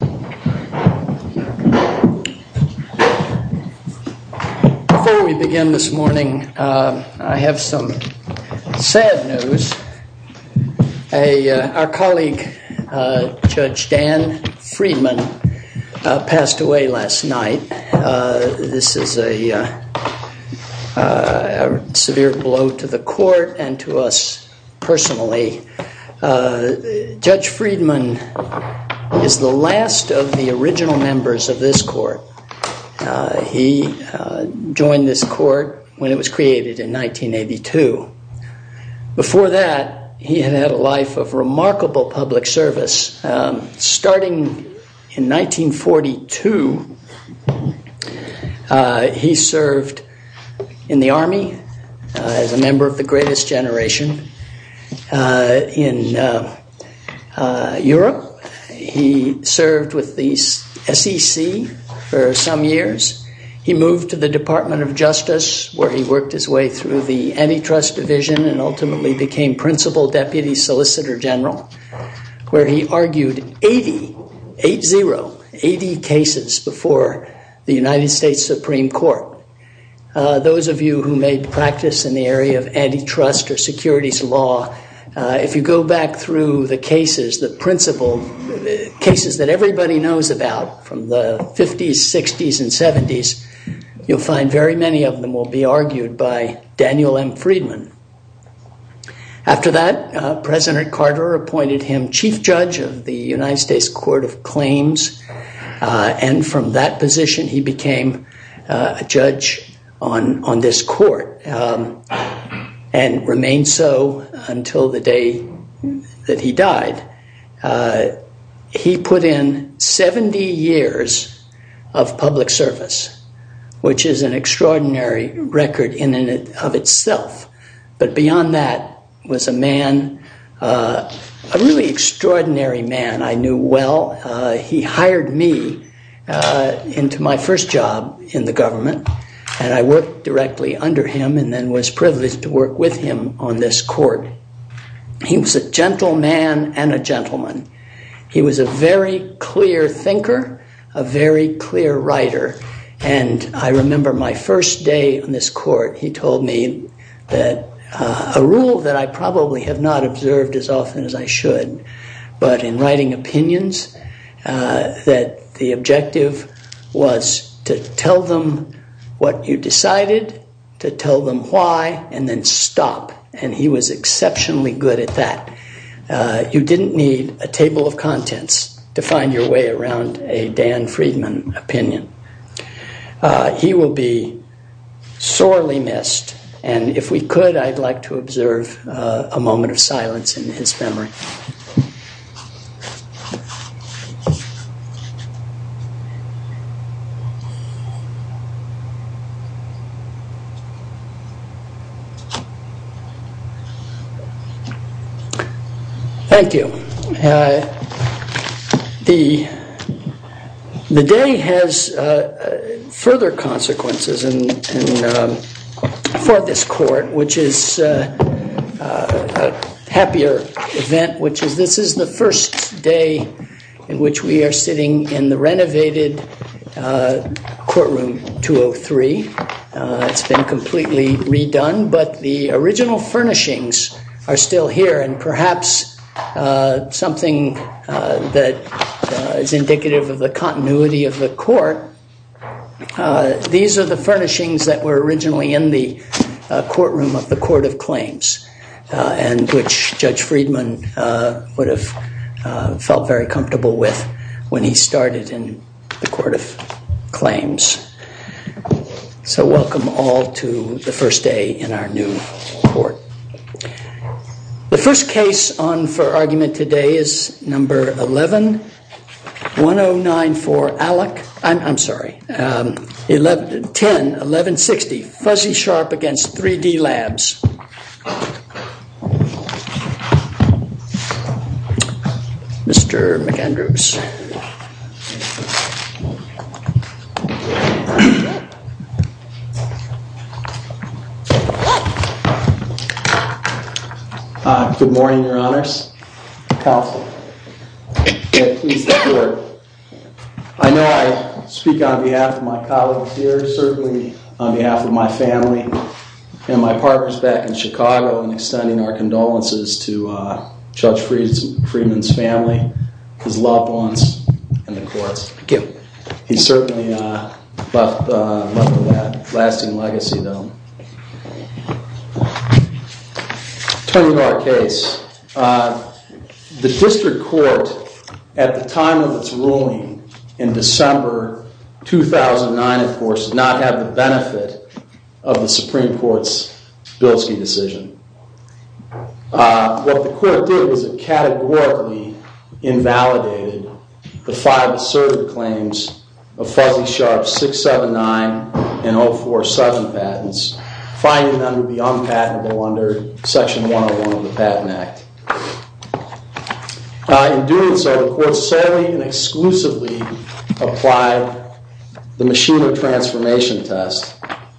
Before we begin this morning, I have some sad news. Our colleague Judge Dan Freedman passed away last night. This is a severe blow to the court and to us personally. Judge Freedman is the last of the original members of this court. He joined this court when it was created in 1982. Before that, he had had a life of remarkable public service. Starting in 1942, he served in the Army as a member of the Greatest Generation in Europe. He served with the SEC for some years. He moved to the Department of Justice, where he worked his way through the Antitrust Division and ultimately became Principal Deputy Solicitor General, where he argued 80, 8-0, 80 cases before the United States Supreme Court. Those of you who made practice in the area of antitrust or securities law, if you go back through the cases that everybody knows about from the 50s, 60s, and 70s, you'll find very many of them will be argued by Daniel M. Freedman. After that, President Carter appointed him Chief Judge on this court and remained so until the day that he died. He put in 70 years of public service, which is an extraordinary record in and of itself. But beyond that was a man, a really extraordinary man I knew well. He hired me into my first job in the government, and I worked directly under him and then was privileged to work with him on this court. He was a gentle man and a gentleman. He was a very clear thinker, a very clear writer, and I remember my first day on this court, he told me that a rule that I probably have not observed as often as I should, but in writing opinions, that the objective was to tell them what you decided, to tell them why, and then stop. And he was exceptionally good at that. You didn't need a table of contents to find your way around a Dan Freedman opinion. He will be sorely missed, and if we could, I'd like to observe a moment of silence in his memory. Thank you. The day has further consequences for this court, which is a happier event which is this is the first day in which we are sitting in the renovated courtroom 203. It's been completely redone, but the original furnishings are still here and perhaps something that is indicative of the continuity of the court. These are the furnishings that were originally in the would have felt very comfortable with when he started in the Court of Claims. So welcome all to the first day in our new court. The first case on for argument today is number 11109 for Alec, I'm sorry, 1110, 1160, Fuzzy Sharp against 3D Labs. Mr. McAndrews. Good morning, Your Honors. Counsel. I know I speak on behalf of my colleagues here, certainly on behalf of my family and my partners back in Chicago in extending our condolences to Judge Freedman's family, his loved ones, and the courts. Thank you. He certainly left a lasting legacy though. Turning to our case, the district court at the time of its ruling in December 2009, of course, did not have the benefit of the Supreme Court. The Supreme Court categorically invalidated the five asserted claims of Fuzzy Sharp's 679 and 047 patents, finding them to be unpatentable under Section 101 of the Patent Act. In doing so, the court solely and exclusively applied the Machina Transformation Test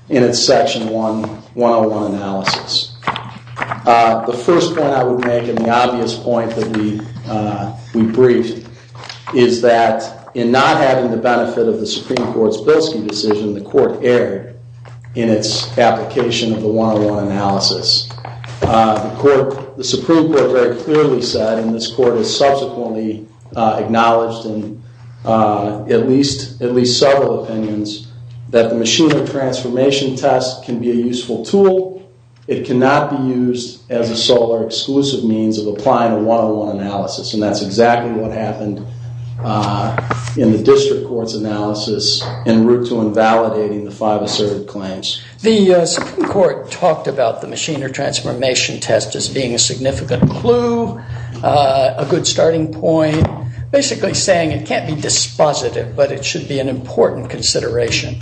in its Section 101 analysis. The first point I would make, and the obvious point that we briefed, is that in not having the benefit of the Supreme Court's Bilski decision, the court erred in its application of the 101 analysis. The Supreme Court very clearly said, and this court has subsequently acknowledged in at least several opinions, that the Machina Transformation Test can be a useful tool. It cannot be used as a sole or exclusive means of applying a 101 analysis, and that's exactly what happened in the district court's analysis en route to invalidating the five asserted claims. The Supreme Court talked about the Machina Transformation Test as being a significant clue, a good starting point, basically saying it can't be dispositive, but it should be an important consideration.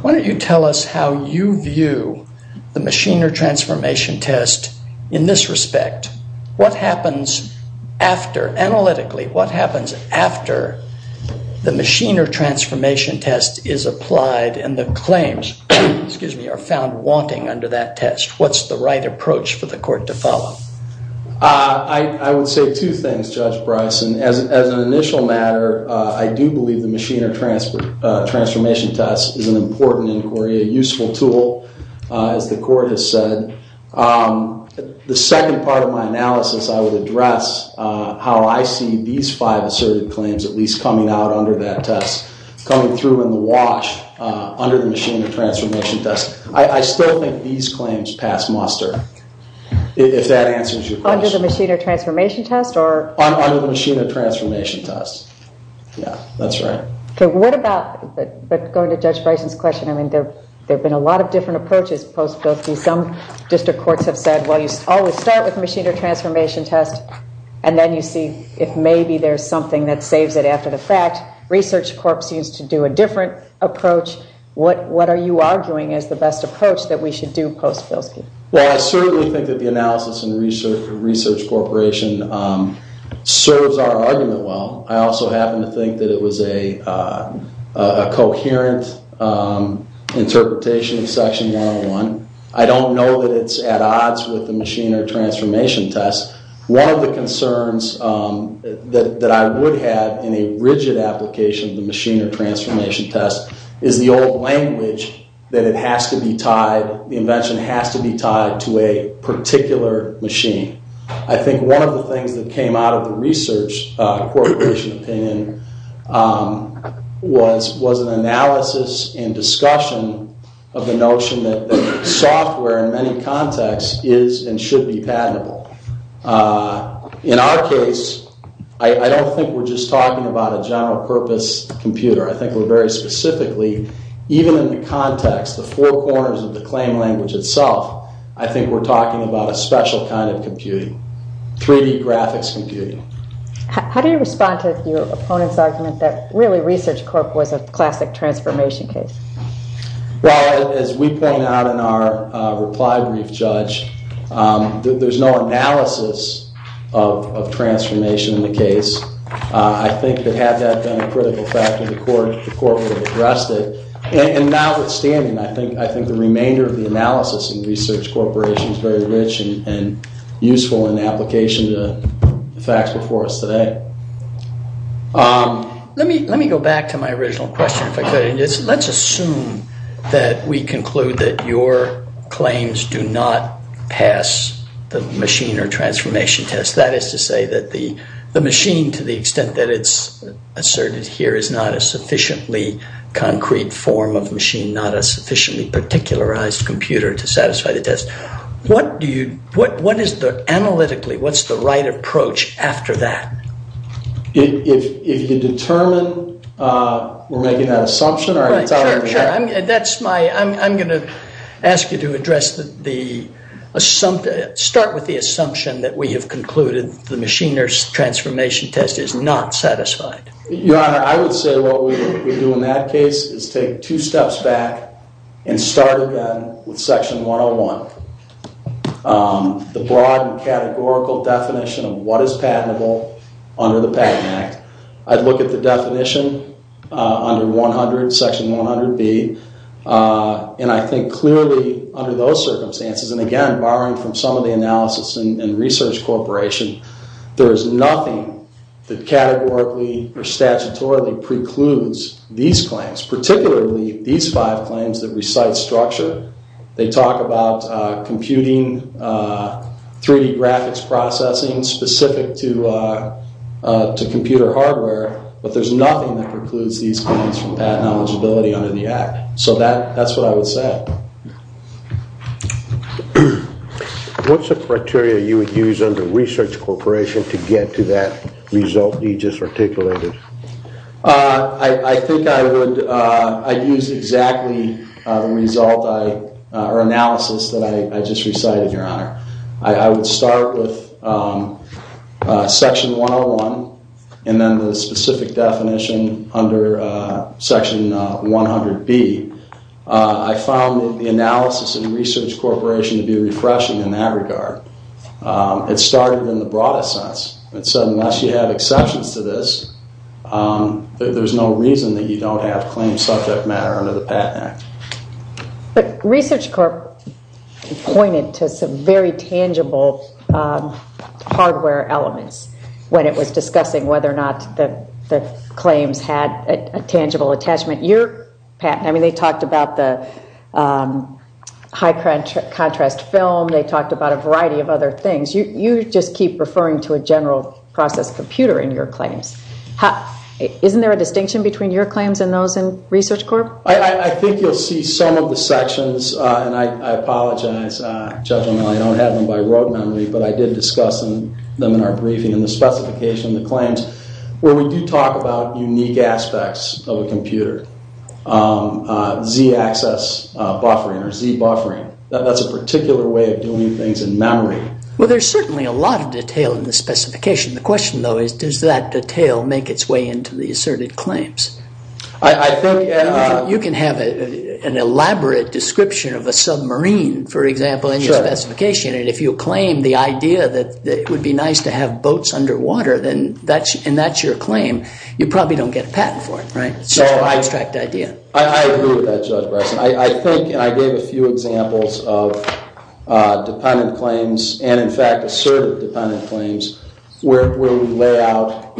Why don't you tell us how you view the Machina Transformation Test in this respect? What happens after, analytically, what happens after the Machina Transformation Test is applied and the claims are found wanting under that test? What's the right approach for the court to follow? I would say two things, Judge Bryson. As an initial matter, I do believe the Machina Transformation Test is an important inquiry, a useful tool, as the court has said. The second part of my analysis, I would address how I see these five asserted claims at least coming out under that test, coming through in the wash under the Machina Transformation Test. I still think these claims pass muster, if that answers your question. Under the Machina Transformation Test, or? Under the Machina Transformation Test, yeah, that's right. But going to Judge Bryson's question, I mean, there have been a lot of different approaches post-Bilkey. Some district courts have said, well, you always start with Machina Transformation Test, and then you see if maybe there's something that saves it after the fact. Research Corp. seems to do a different approach. What are you arguing is the best approach that we should do post-Bilkey? Well, I certainly think that the analysis in Research Corporation serves our argument well. I also happen to think that it was a coherent interpretation of Section 101. I don't know that it's at odds with the Machina Transformation Test. One of the concerns that I would have in a rigid application of the Machina Transformation Test is the old language that it has to be tied, the invention has to be tied to a particular machine. I think one of the things that came out of the Research Corporation opinion was an analysis and discussion of the notion that software in many contexts is and should be patentable. In our case, I don't think we're just talking about a general purpose computer. I think we're very specifically, even in the context, the four corners of the claim language itself, I think we're talking about a special kind of computing, 3D graphics computing. How do you respond to your opponent's argument that really Research Corp. was a classic transformation case? Well, as we point out in our reply brief, Judge, there's no analysis of transformation in the case. I think that had that been a critical factor, the Court would have addressed it. And notwithstanding, I think the remainder of the analysis in Research Corporation is very rich and useful in application to the facts before us today. Let me go back to my original question, if I could. Let's assume that we conclude that your claims do not pass the Machina Transformation Test. That is to say that the machine, to the extent that it's asserted here, is not a sufficiently concrete form of machine, not a sufficiently particularized computer to satisfy the test. What is the analytically, what's the right approach after that? If you determine we're making that assumption, are you telling me that? Right, sure, sure. That's my, I'm going to ask you to address the, start with the assumption that we have concluded the Machina Transformation Test is not satisfied. Your Honor, I would say what we would do in that case is take two steps back and start again with Section 101. The broad and categorical definition of what is patentable under the Patent Act. I'd look at the definition under 100, Section 100B, and I think clearly under those circumstances, and again, borrowing from some of the analysis in Research Corporation, there is nothing that categorically or statutorily precludes these claims, particularly these five claims that recite structure. They talk about computing, 3D graphics processing, specific to computer hardware, but there's nothing that precludes these claims from patent eligibility under the Act. So that's what I would say. What's the criteria you would use under Research Corporation to get to that result you just articulated? I think I would, I'd use exactly the result I, or analysis that I just recited, Your Honor. I would start with Section 101 and then the specific definition under Section 100B. I found the analysis in Research Corporation to be refreshing in that regard. It started in the broadest sense. It said unless you have exceptions to this, there's no reason that you don't have claims subject matter under the Patent Act. But Research Corporation pointed to some very tangible hardware elements when it was discussing whether or not the claims had a tangible attachment. I mean, they talked about the high contrast film, they talked about a variety of other things. You just keep referring to a general process computer in your claims. Isn't there a distinction between your claims and those in Research Corp? I think you'll see some of the sections, and I apologize, Judge O'Malley, I don't have them by road memory, but I did discuss them in our briefing in the specification, the claims, where we do talk about unique aspects of a computer. Z-axis buffering or Z-buffering. That's a particular way of doing things in memory. Well, there's certainly a lot of detail in the specification. The question, though, is does that detail make its way into the asserted claims? You can have an elaborate description of a submarine, for example, in your specification, and if you claim the idea that it would be nice to have boats underwater, and that's your claim, you probably don't get a patent for it, right? It's just an abstract idea. I agree with that, Judge Bryson. I think, and I gave a few examples of dependent claims and, in fact, asserted dependent claims, where we lay out,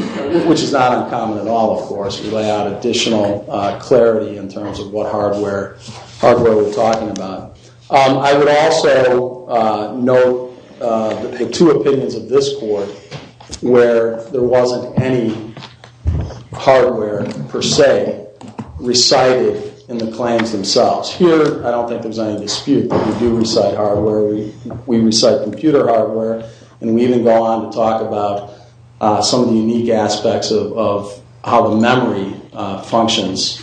which is not uncommon at all, of course, we lay out additional clarity in terms of what hardware we're talking about. I would also note the two opinions of this Court, where there wasn't any hardware per se, recited in the claims themselves. Here, I don't think there's any dispute that we do recite hardware. We recite computer hardware, and we even go on to talk about some of the unique aspects of how the memory functions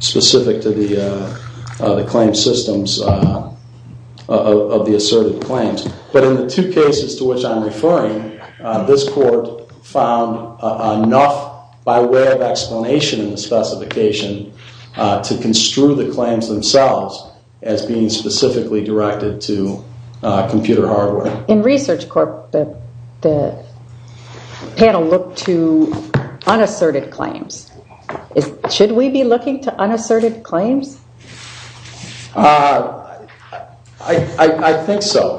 specific to the claim systems of the asserted claims. But in the two cases to which I'm referring, this Court found enough, by way of explanation in the specification, to construe the claims themselves as being specifically directed to computer hardware. In Research Corp, the panel looked to unasserted claims. Should we be looking to unasserted claims? I think so.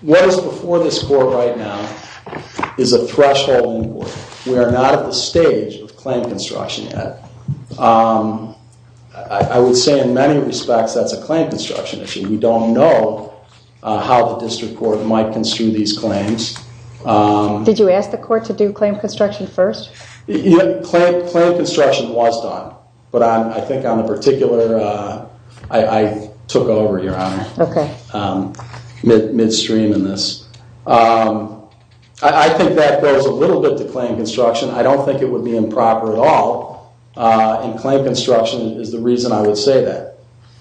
What is before this Court right now is a threshold inquiry. We are not at the stage of claim construction yet. I would say, in many respects, that's a claim construction issue. We don't know how the District Court might construe these claims. Did you ask the Court to do claim construction first? Claim construction was done, but I think on the particular... I took over, Your Honor, midstream in this. I think that goes a little bit to claim construction. I don't think it would be improper at all. And claim construction is the reason I would say that.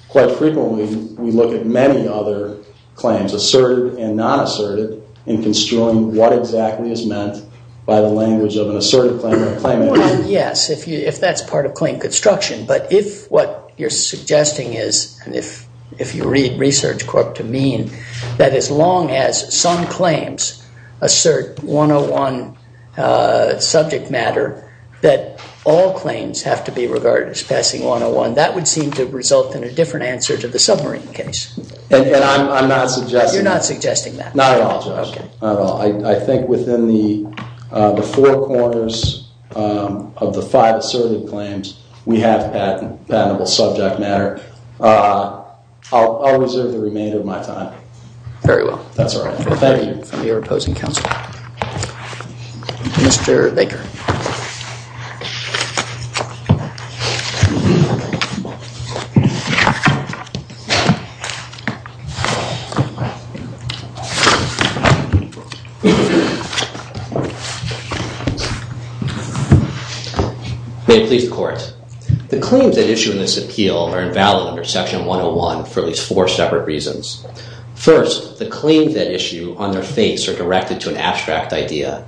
Quite frequently, we look at many other claims, asserted and non-asserted, in construing what exactly is meant by the language of an asserted claim or a claim. Yes, if that's part of claim construction. But if what you're suggesting is, and if you read Research Corp to me, that as long as some claims assert 101 subject matter, that all claims have to be regarded as passing 101, that would seem to result in a different answer to the submarine case. And I'm not suggesting that. You're not suggesting that? Not at all, Judge, not at all. I think within the four corners of the five asserted claims, we have patentable subject matter. I'll reserve the remainder of my time. Very well. That's all right. Thank you. For your opposing counsel. Mr. Baker. May it please the Court. The claims at issue in this appeal are invalid under Section 101 for at least four separate reasons. First, the claims at issue on their face are directed to an abstract idea.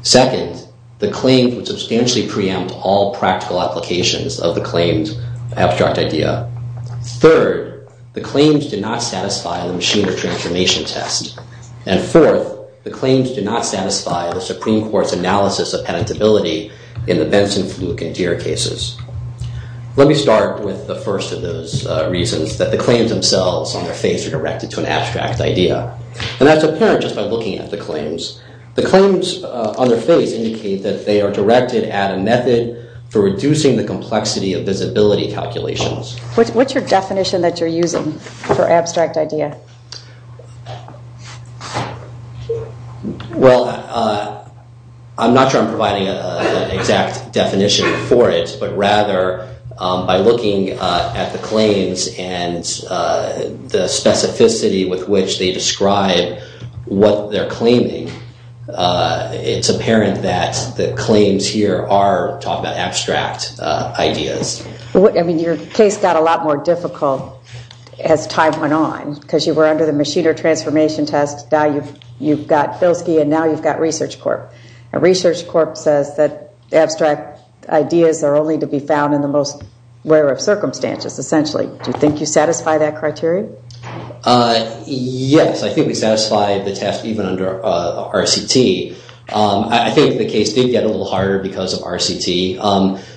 Second, the claims would substantially preempt all practical applications of the claims abstract idea. Third, the claims do not satisfy the machine or transformation test. And fourth, the claims do not satisfy the Supreme Court's analysis of patentability in the Benson, Fluke, and Deere cases. Let me start with the first of those reasons, that the claims themselves on their face are directed to an abstract idea. And that's apparent just by looking at the claims. The claims on their face indicate that they are directed at a method for reducing the complexity of visibility calculations. What's your definition that you're using for abstract idea? Well, I'm not sure I'm providing an exact definition for it. But rather, by looking at the claims and the specificity with which they describe what they're claiming, it's apparent that the claims here are talking about abstract ideas. I mean, your case got a lot more difficult as time went on. Because you were under the machine or transformation test. Now you've got Filski, and now you've got Research Corp. And Research Corp says that abstract ideas are only to be found in the most rare of circumstances, essentially. Do you think you satisfy that criteria? Uh, yes. I think we satisfy the test even under RCT. I think the case did get a little harder because of RCT.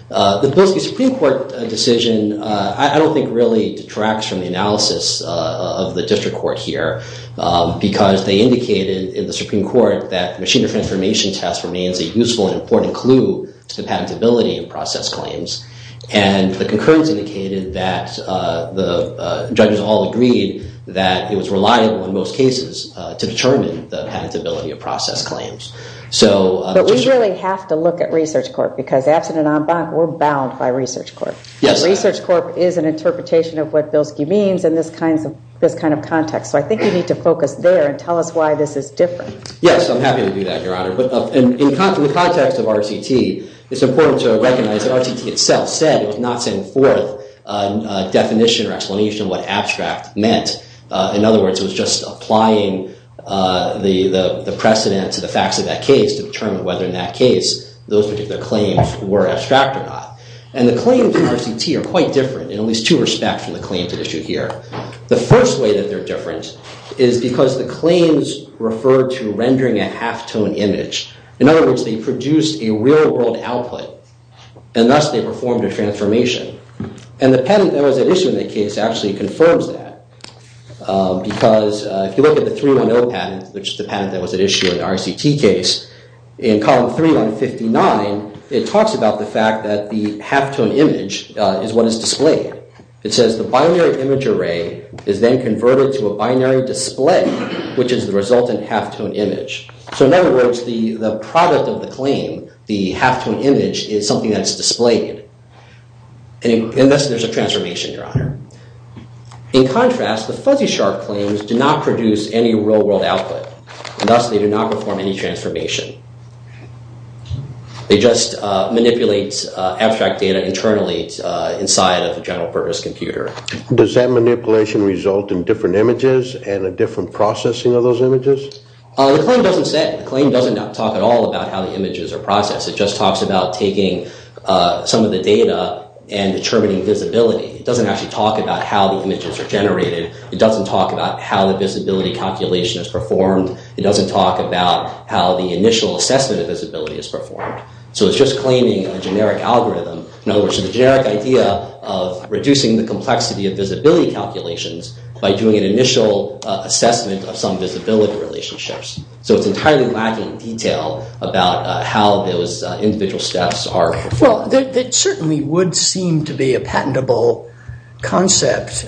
The Filski Supreme Court decision, I don't think really detracts from the analysis of the district court here. Because they indicated in the Supreme Court that machine or transformation test remains a useful and important clue to patentability in process claims. And the concurrence indicated that the judges all agreed that it was reliable in most cases to determine the patentability of process claims. But we really have to look at Research Corp. Because absent an en banc, we're bound by Research Corp. Yes. Research Corp is an interpretation of what Filski means in this kind of context. So I think you need to focus there and tell us why this is different. Yes, I'm happy to do that, Your Honor. In the context of RCT, it's important to recognize that RCT itself said it was not setting forth a definition or explanation of what abstract meant. In other words, it was just applying the precedent to the facts of that case to determine whether in that case those particular claims were abstract or not. And the claims in RCT are quite different in at least two respects from the claims at issue here. The first way that they're different is because the claims refer to rendering a halftone image In other words, they produced a real-world output. And thus, they performed a transformation. And the patent that was at issue in that case actually confirms that. Because if you look at the 310 patent, which is the patent that was at issue in the RCT case, in column 3159, it talks about the fact that the halftone image is what is displayed. It says the binary image array is then converted to a binary display, which is the resultant halftone image. So in other words, the product of the claim, the halftone image, is something that's displayed. And thus, there's a transformation, Your Honor. In contrast, the fuzzy sharp claims do not produce any real-world output. And thus, they do not perform any transformation. They just manipulate abstract data internally inside of the general purpose computer. Does that manipulation result in different images and a different processing of those images? The claim doesn't talk at all about how the images are processed. It just talks about taking some of the data and determining visibility. It doesn't actually talk about how the images are generated. It doesn't talk about how the visibility calculation is performed. It doesn't talk about how the initial assessment of visibility is performed. So it's just claiming a generic algorithm. In other words, the generic idea of reducing the complexity of visibility calculations by doing an initial assessment of some visibility relationships. So it's entirely lacking detail about how those individual steps are performed. Well, there certainly would seem to be a patentable concept,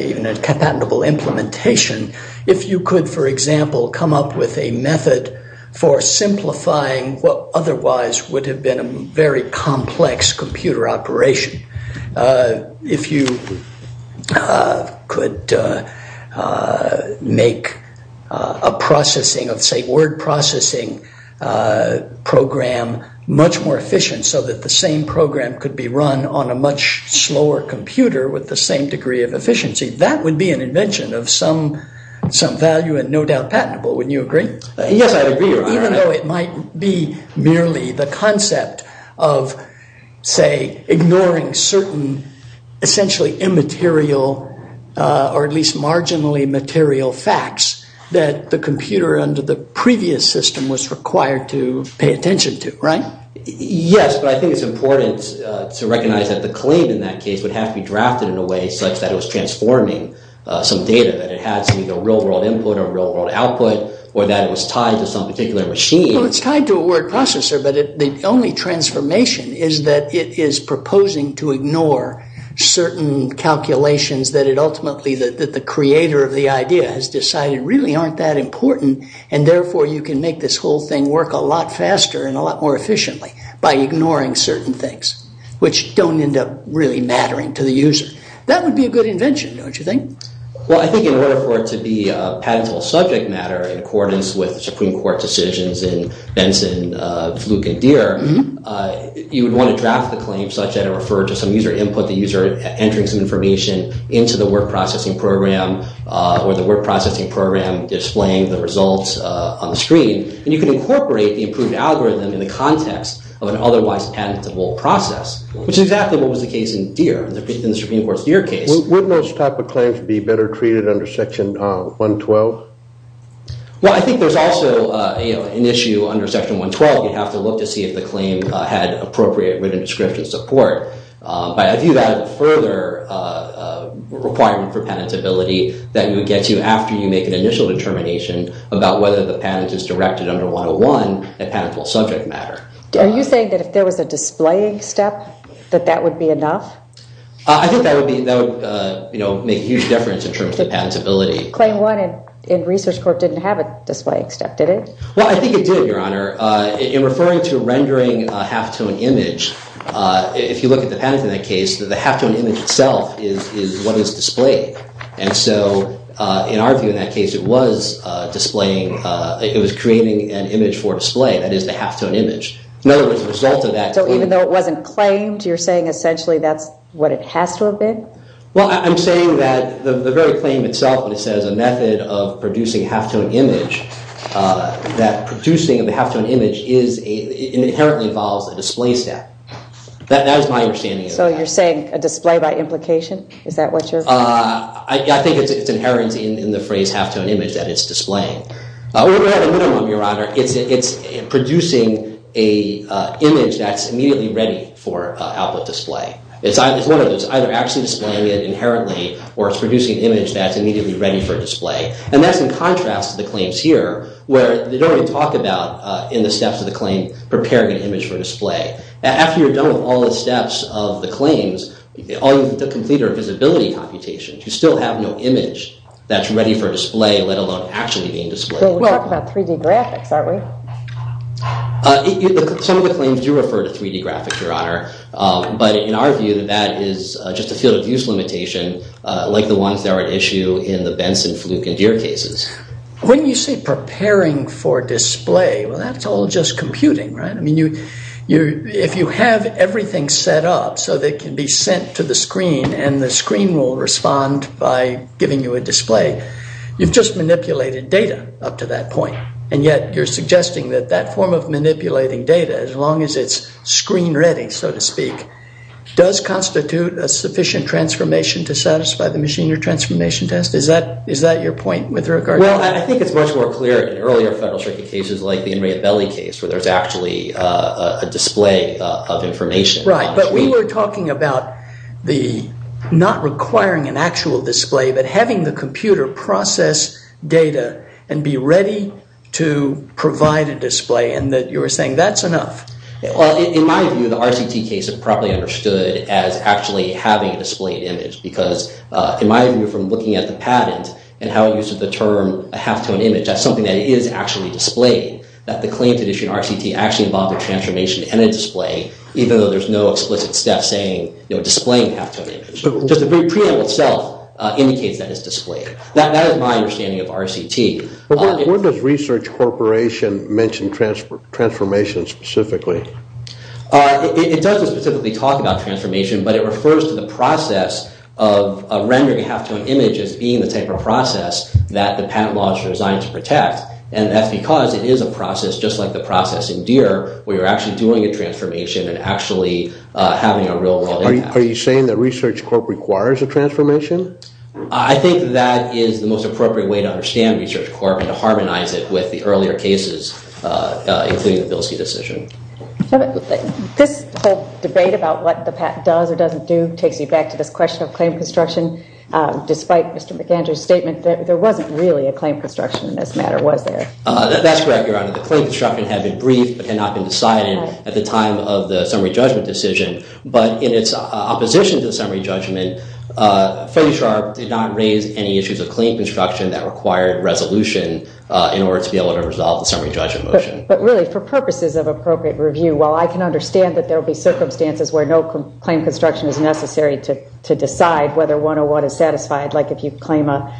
even a patentable implementation, if you could, for example, come up with a method for simplifying what otherwise would have been a very complex computer operation. If you could make a processing of, say, word processing program much more efficient so that the same program could be run on a much slower computer with the same degree of efficiency, that would be an invention of some value and no doubt patentable. Wouldn't you agree? Yes, I'd agree, Your Honor. Even though it might be merely the concept of, say, ignoring certain essentially immaterial or at least marginally material facts that the computer under the previous system was required to pay attention to, right? Yes, but I think it's important to recognize that the claim in that case would have to be drafted in a way such that it was transforming some data, that it had some real-world input or real-world output, or that it was tied to some particular machine. Well, it's tied to a word processor, but the only transformation is that it is proposing to ignore certain calculations that it ultimately, that the creator of the idea has decided really aren't that important, and therefore you can make this whole thing work a lot faster and a lot more efficiently by ignoring certain things, which don't end up really mattering to the user. That would be a good invention, don't you think? Well, I think in order for it to be a patentable subject matter in accordance with Supreme Court decisions in Benson, Fluke, and Deere, you would want to draft the claim such that it referred to some user input, the user entering some information into the word processing program, or the word processing program displaying the results on the screen. And you can incorporate the improved algorithm in the context of an otherwise patentable process, which is exactly what was the case in Deere, in the Supreme Court's Deere case. Wouldn't those type of claims be better treated under Section 112? Well, I think there's also an issue under Section 112. You'd have to look to see if the claim had appropriate written description support. But I view that as a further requirement for patentability that you would get to after you make an initial determination about whether the patent is directed under 101, a patentable subject matter. Are you saying that if there was a displaying step, that that would be enough? I think that would make a huge difference in terms of patentability. Claim one in Research Corp didn't have a displaying step, did it? Well, I think it did, Your Honor. In referring to rendering a halftone image, if you look at the patent in that case, the halftone image itself is what is displayed. And so in our view in that case, it was creating an image for display. That is the halftone image. In other words, the result of that claim. Even though it wasn't claimed, you're saying essentially that's what it has to have been? Well, I'm saying that the very claim itself, when it says a method of producing a halftone image, that producing a halftone image inherently involves a display step. That is my understanding of that. So you're saying a display by implication? Is that what you're saying? I think it's inherent in the phrase halftone image that it's displaying. We're at a minimum, Your Honor. It's producing an image that's immediately ready for output display. It's either actually displaying it inherently, or it's producing an image that's immediately ready for display. And that's in contrast to the claims here, where they don't even talk about in the steps of the claim, preparing an image for display. After you're done with all the steps of the claims, all you need to complete are visibility computations. You still have no image that's ready for display, let alone actually being displayed. Well, we're talking about 3D graphics, aren't we? Some of the claims do refer to 3D graphics, Your Honor. But in our view, that is just a field of use limitation, like the ones that are at issue in the Benson, Fluke, and Deere cases. When you say preparing for display, well, that's all just computing, right? I mean, if you have everything set up so that it can be sent to the screen, and the screen will respond by giving you a display, you've just manipulated data up to that point. And yet, you're suggesting that that form of manipulating data, as long as it's screen ready, so to speak, does constitute a sufficient transformation to satisfy the machinery transformation test. Is that your point with regard to that? Well, I think it's much more clear in earlier federal circuit cases, like the Inmate Belly case, where there's actually a display of information. Right, but we were talking about not requiring an actual display, but having the computer process data and be ready to provide a display, and that you were saying that's enough. Well, in my view, the RCT case is probably understood as actually having a displayed image, because in my view, from looking at the patent and how it uses the term a halftone image, that's something that is actually displayed, that the claim to issue an RCT actually involved a transformation and a display, even though there's no explicit step saying, you know, displaying a halftone image. Just the preamble itself indicates that it's displayed. That is my understanding of RCT. But where does Research Corporation mention transformation specifically? It doesn't specifically talk about transformation, but it refers to the process of rendering a halftone image as being the type of process that the patent law is designed to protect, and that's because it is a process just like the process in DEER, where you're actually doing a transformation and actually having a real world impact. Are you saying that Research Corp requires a transformation? I think that is the most appropriate way to understand Research Corp and to harmonize it with the earlier cases, including the Bilsey decision. This whole debate about what the patent does or doesn't do takes me back to this question of claim construction. Despite Mr. McAndrew's statement, there wasn't really a claim construction in this matter, was there? That's correct, Your Honor. The claim construction had been briefed, but had not been decided at the time of the summary judgment decision. But in its opposition to the summary judgment, Fote-Sharpe did not raise any issues of claim construction that required resolution in order to be able to resolve the summary judgment motion. But really, for purposes of appropriate review, while I can understand that there will be circumstances where no claim construction is necessary to decide whether one or one is satisfied, like if you claim a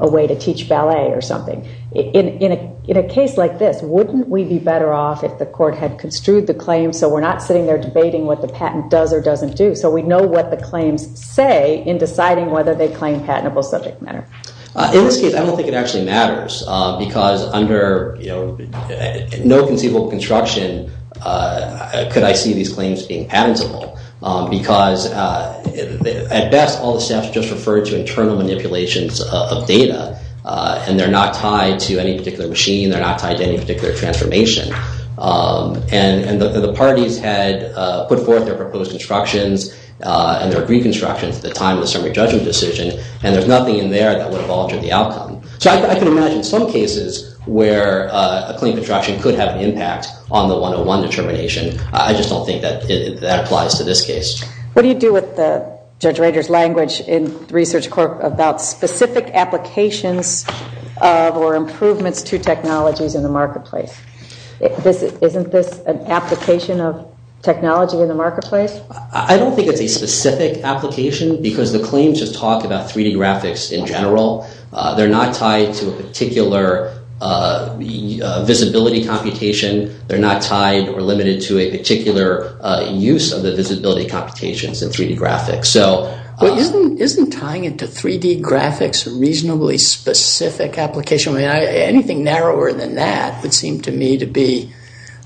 way to teach ballet or something, in a case like this, wouldn't we be better off if the court had construed the claim so we're not sitting there debating what the patent does or doesn't do, so we know what the claims say in deciding whether they claim patentable subject matter? In this case, I don't think it actually matters, because under no conceivable construction could I see these claims being patentable, because at best, all the staff's just referred to internal manipulations of data, and they're not tied to any particular machine, they're not tied to any particular transformation. And the parties had put forth their proposed constructions and their agreed constructions at the time of the summary judgment decision, and there's nothing in there that would have altered the outcome. So I can imagine some cases where a claim construction could have an impact on the one-to-one determination. I just don't think that applies to this case. What do you do with Judge Rader's language in research court about specific applications of or improvements to technologies in the marketplace? Isn't this an application of technology in the marketplace? I don't think it's a specific application, because the claims just talk about 3D graphics in general. They're not tied to a particular visibility computation, they're not tied or limited to a particular use of the visibility computations in 3D graphics. Isn't tying it to 3D graphics a reasonably specific application? Anything narrower than that would seem to me to be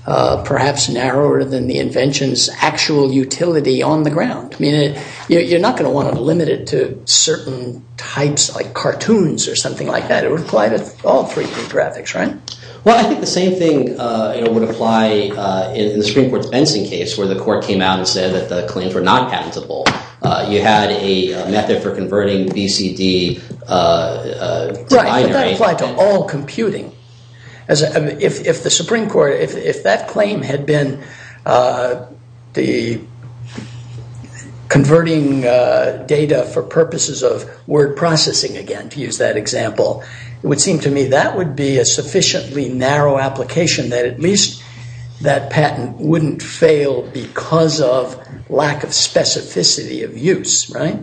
perhaps narrower than the invention's actual utility on the ground. I mean, you're not going to want to limit it to certain types like cartoons or something like that. It would apply to all 3D graphics, right? Well, I think the same thing would apply in the Supreme Court's Benson case where the court came out and said that the claims were not patentable. You had a method for converting BCD... Right, but that applied to all computing. As if the Supreme Court, if that claim had been the converting data for purposes of word processing, again, to use that example, it would seem to me that would be a sufficiently narrow application that at least that patent wouldn't fail because of lack of specificity of use, right?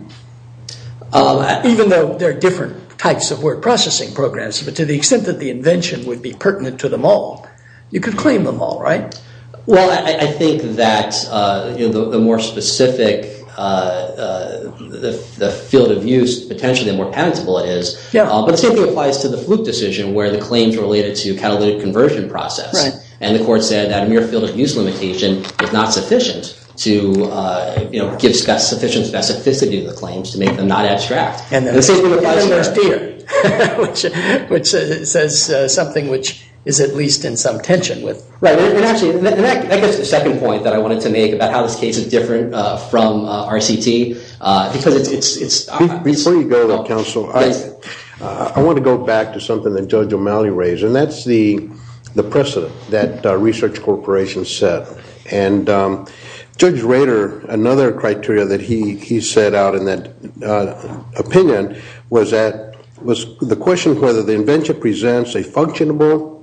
Even though there are different types of word processing programs, but to the extent that the invention would be pertinent to them all, you could claim them all, right? Well, I think that the more specific field of use, potentially, the more patentable it is. But the same thing applies to the Fluke decision where the claims were related to catalytic conversion process. And the court said that a mere field of use limitation is not sufficient to give sufficient specificity to the claims to make them not abstract. And the same thing applies here. Which says something which is at least in some tension with... Right, and actually, that gets to the second point that I wanted to make about how this case is different from RCT because it's... Before you go there, counsel, I want to go back to something that Judge O'Malley raised. And that's the precedent that research corporations set. And Judge Rader, another criteria that he set out in that opinion was the question of whether the invention presents a functionable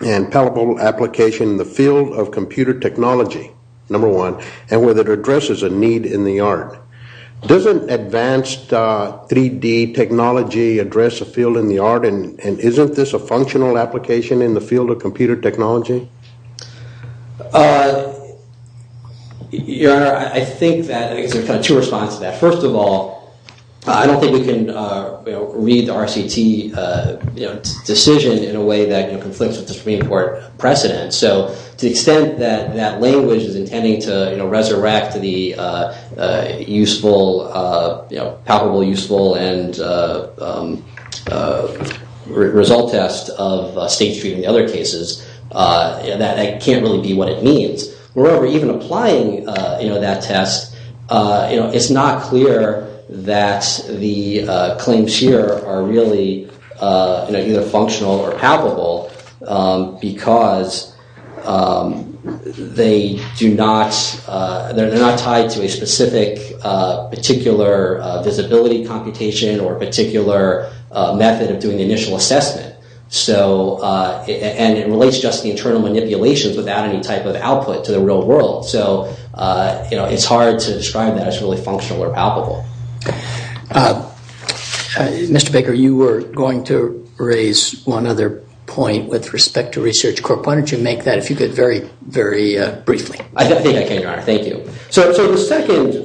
and palpable application in the field of computer technology, number one, and whether it addresses a need in the art. Doesn't advanced 3D technology address a field in the art? And isn't this a functional application in the field of computer technology? Your Honor, I think that... I think there's kind of two responses to that. First of all, I don't think we can read the RCT decision in a way that conflicts with the Supreme Court precedent. So to the extent that that language is intending to resurrect the useful, palpable useful and result test of state treatment in other cases, that can't really be what it means. Moreover, even applying that test, it's not clear that the claims here are really either functional or palpable because they're not tied to a specific, particular visibility computation or particular method of doing the initial assessment. And it relates just to the internal manipulations without any type of output to the real world. So it's hard to describe that as really functional or palpable. Mr. Baker, you were going to raise one other point with respect to Research Corp. Why don't you make that, if you could, very, very briefly. I think I can, Your Honor. Thank you. So the second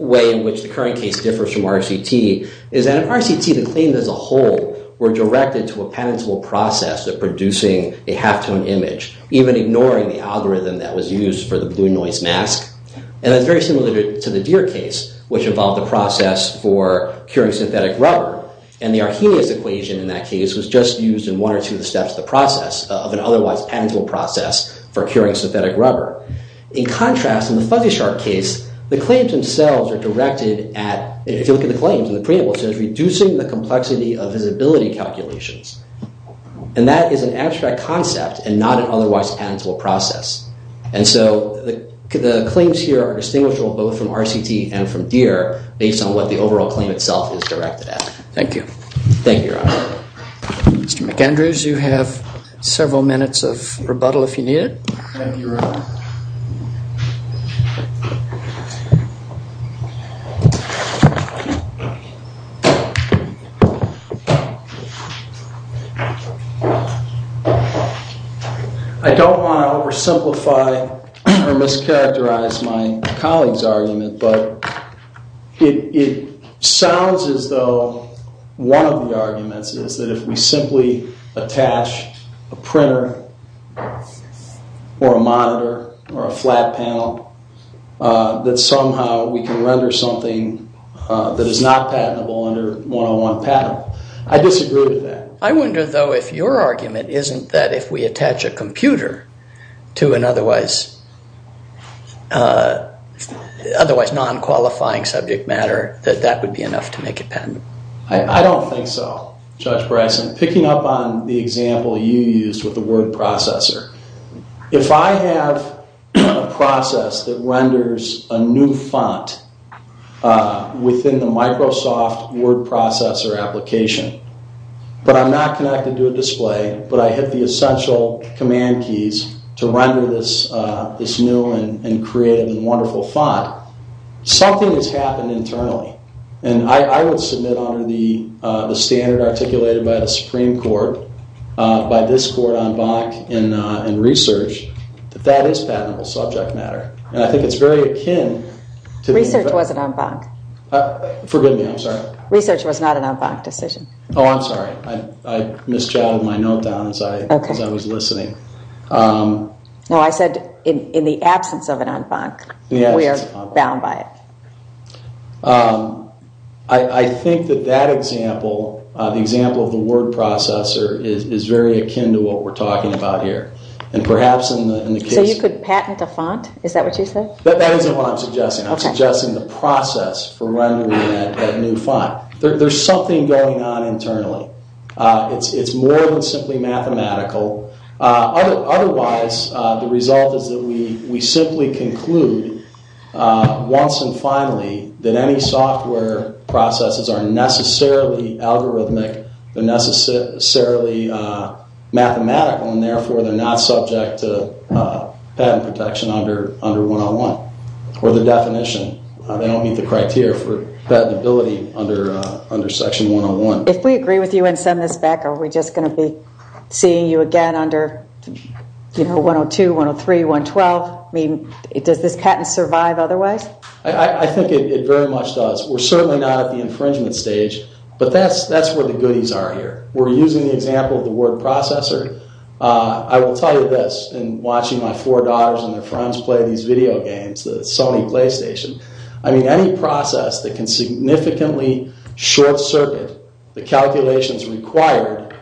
way in which the current case differs from RCT is that in RCT, the claims as a whole were directed to a penanceable process of producing a halftone image, even ignoring the algorithm that was used for the blue noise mask. And that's very similar to the Deere case, which involved the process for curing synthetic rubber. And the Arrhenius equation in that case was just used in one or two of the steps of the process of an otherwise penanceable process for curing synthetic rubber. In contrast, in the Fuzzy Shark case, the claims themselves are directed at, if you look at the claims in the preamble, it says reducing the complexity of visibility calculations. And that is an abstract concept and not an otherwise penanceable process. And so the claims here are distinguishable both from RCT and from Deere based on what the overall claim itself is directed at. Thank you. Thank you, Your Honor. Mr. McAndrews, you have several minutes of rebuttal if you need it. Thank you, Your Honor. I don't want to oversimplify or mischaracterize my colleague's argument. But it sounds as though one of the arguments is that if we simply attach a printer or a monitor or a flat panel, that somehow we can render something that is not patentable under 101 patent. I disagree with that. I wonder, though, if your argument isn't that if we attach a computer to an otherwise non-qualifying subject matter, that that would be enough to make it patentable. I don't think so, Judge Bryson. Picking up on the example you used with the word processor, if I have a process that renders a new font within the Microsoft word processor application, but I'm not connected to a display, but I hit the essential command keys to render this new and creative and wonderful font, something has happened internally. And I would submit under the standard articulated by the Supreme Court, by this court en banc in research, that that is patentable subject matter. And I think it's very akin to the- Research wasn't en banc. Forgive me. I'm sorry. Research was not an en banc decision. Oh, I'm sorry. I misjotted my note down as I was listening. No, I said in the absence of an en banc, we are bound by it. I think that that example, the example of the word processor, is very akin to what we're talking about here. And perhaps in the case- So you could patent a font? Is that what you said? That isn't what I'm suggesting. I'm suggesting the process for rendering that new font. There's something going on internally. It's more than simply mathematical. Otherwise, the result is that we simply conclude once and finally, that any software processes are necessarily algorithmic, they're necessarily mathematical, and therefore they're not subject to patent protection under 101. Or the definition. They don't meet the criteria for patentability under section 101. If we agree with you and send this back, are we just going to be seeing you again under 102, 103, 112? I mean, does this patent survive otherwise? I think it very much does. We're certainly not at the infringement stage, but that's where the goodies are here. We're using the example of the word processor. I will tell you this, in watching my four daughters and their friends play these video games, the Sony PlayStation. I mean, any process that can significantly short circuit the calculations required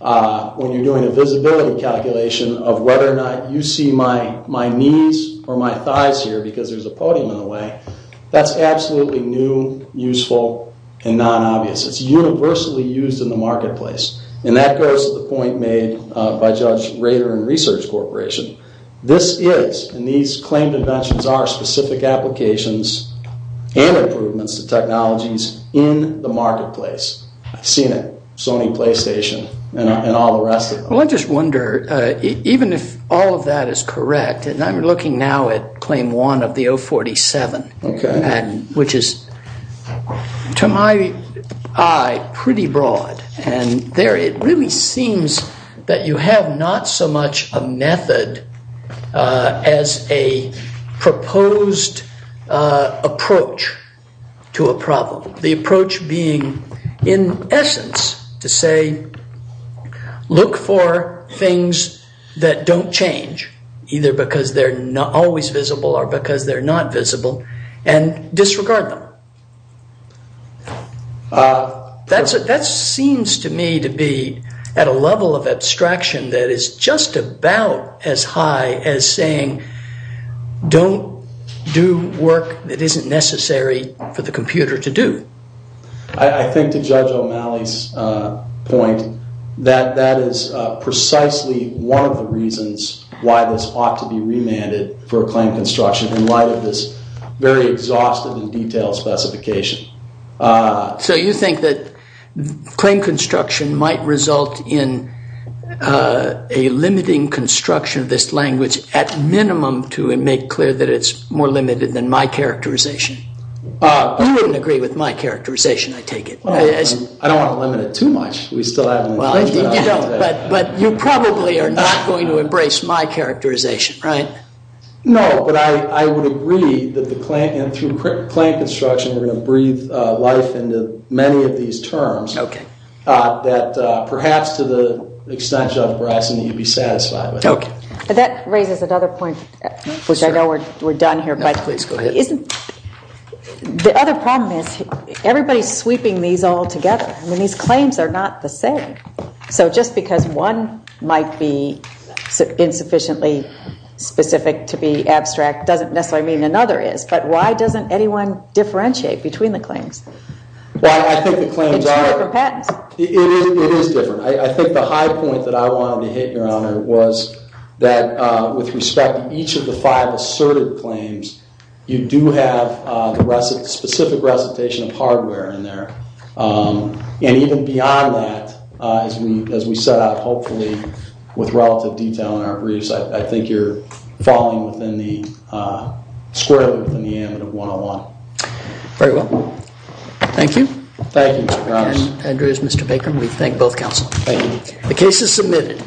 when you're doing a visibility calculation of whether or not you see my knees or my thighs here, because there's a podium in the way, that's absolutely new, useful, and non-obvious. It's universally used in the marketplace. And that goes to the point made by Judge Rader and Research Corporation. This is, and these claimed inventions are specific applications and improvements to technologies in the marketplace. I've seen it, Sony PlayStation and all the rest of them. Well, I just wonder, even if all of that is correct, and I'm looking now at claim one of the 047, which is, to my eye, pretty broad. And there, it really seems that you have not so much a method as a proposed approach to a problem. The approach being, in essence, to say, look for things that don't change, either because they're not always visible or because they're not visible, and disregard them. That seems to me to be at a level of abstraction that is just about as high as saying, don't do work that isn't necessary for the computer to do. I think, to Judge O'Malley's point, that that is precisely one of the reasons why this ought to be remanded for a claim construction, in light of this very exhaustive and detailed specification. So you think that claim construction might result in a limiting construction of this language, at minimum, to make clear that it's more limited than my characterization? You wouldn't agree with my characterization, I take it. Well, I don't want to limit it too much. We still have an infringement on that. But you probably are not going to embrace my characterization, right? No, but I would agree that the claim, and through claim construction, we're going to breathe life into many of these terms, that perhaps, to the extent, Judge Bryson, that you'd be satisfied with. OK. That raises another point, which I know we're done here, but please go ahead. Isn't, the other problem is, everybody's sweeping these all together. I mean, these claims are not the same. So just because one might be insufficiently specific to be abstract, doesn't necessarily mean another is. But why doesn't anyone differentiate between the claims? Well, I think the claims are- It's two different patents. It is different. I think the high point that I wanted to hit, Your Honor, was that with respect to each of the five asserted claims, you do have the specific recitation of hardware in there. And even beyond that, as we set out, hopefully, with relative detail in our briefs, I think you're falling within the, squarely within the amendment of 101. Very well. Thank you. Thank you, Mr. Grimes. Andreas, Mr. Baker, we thank both counsel. Thank you. The case is submitted.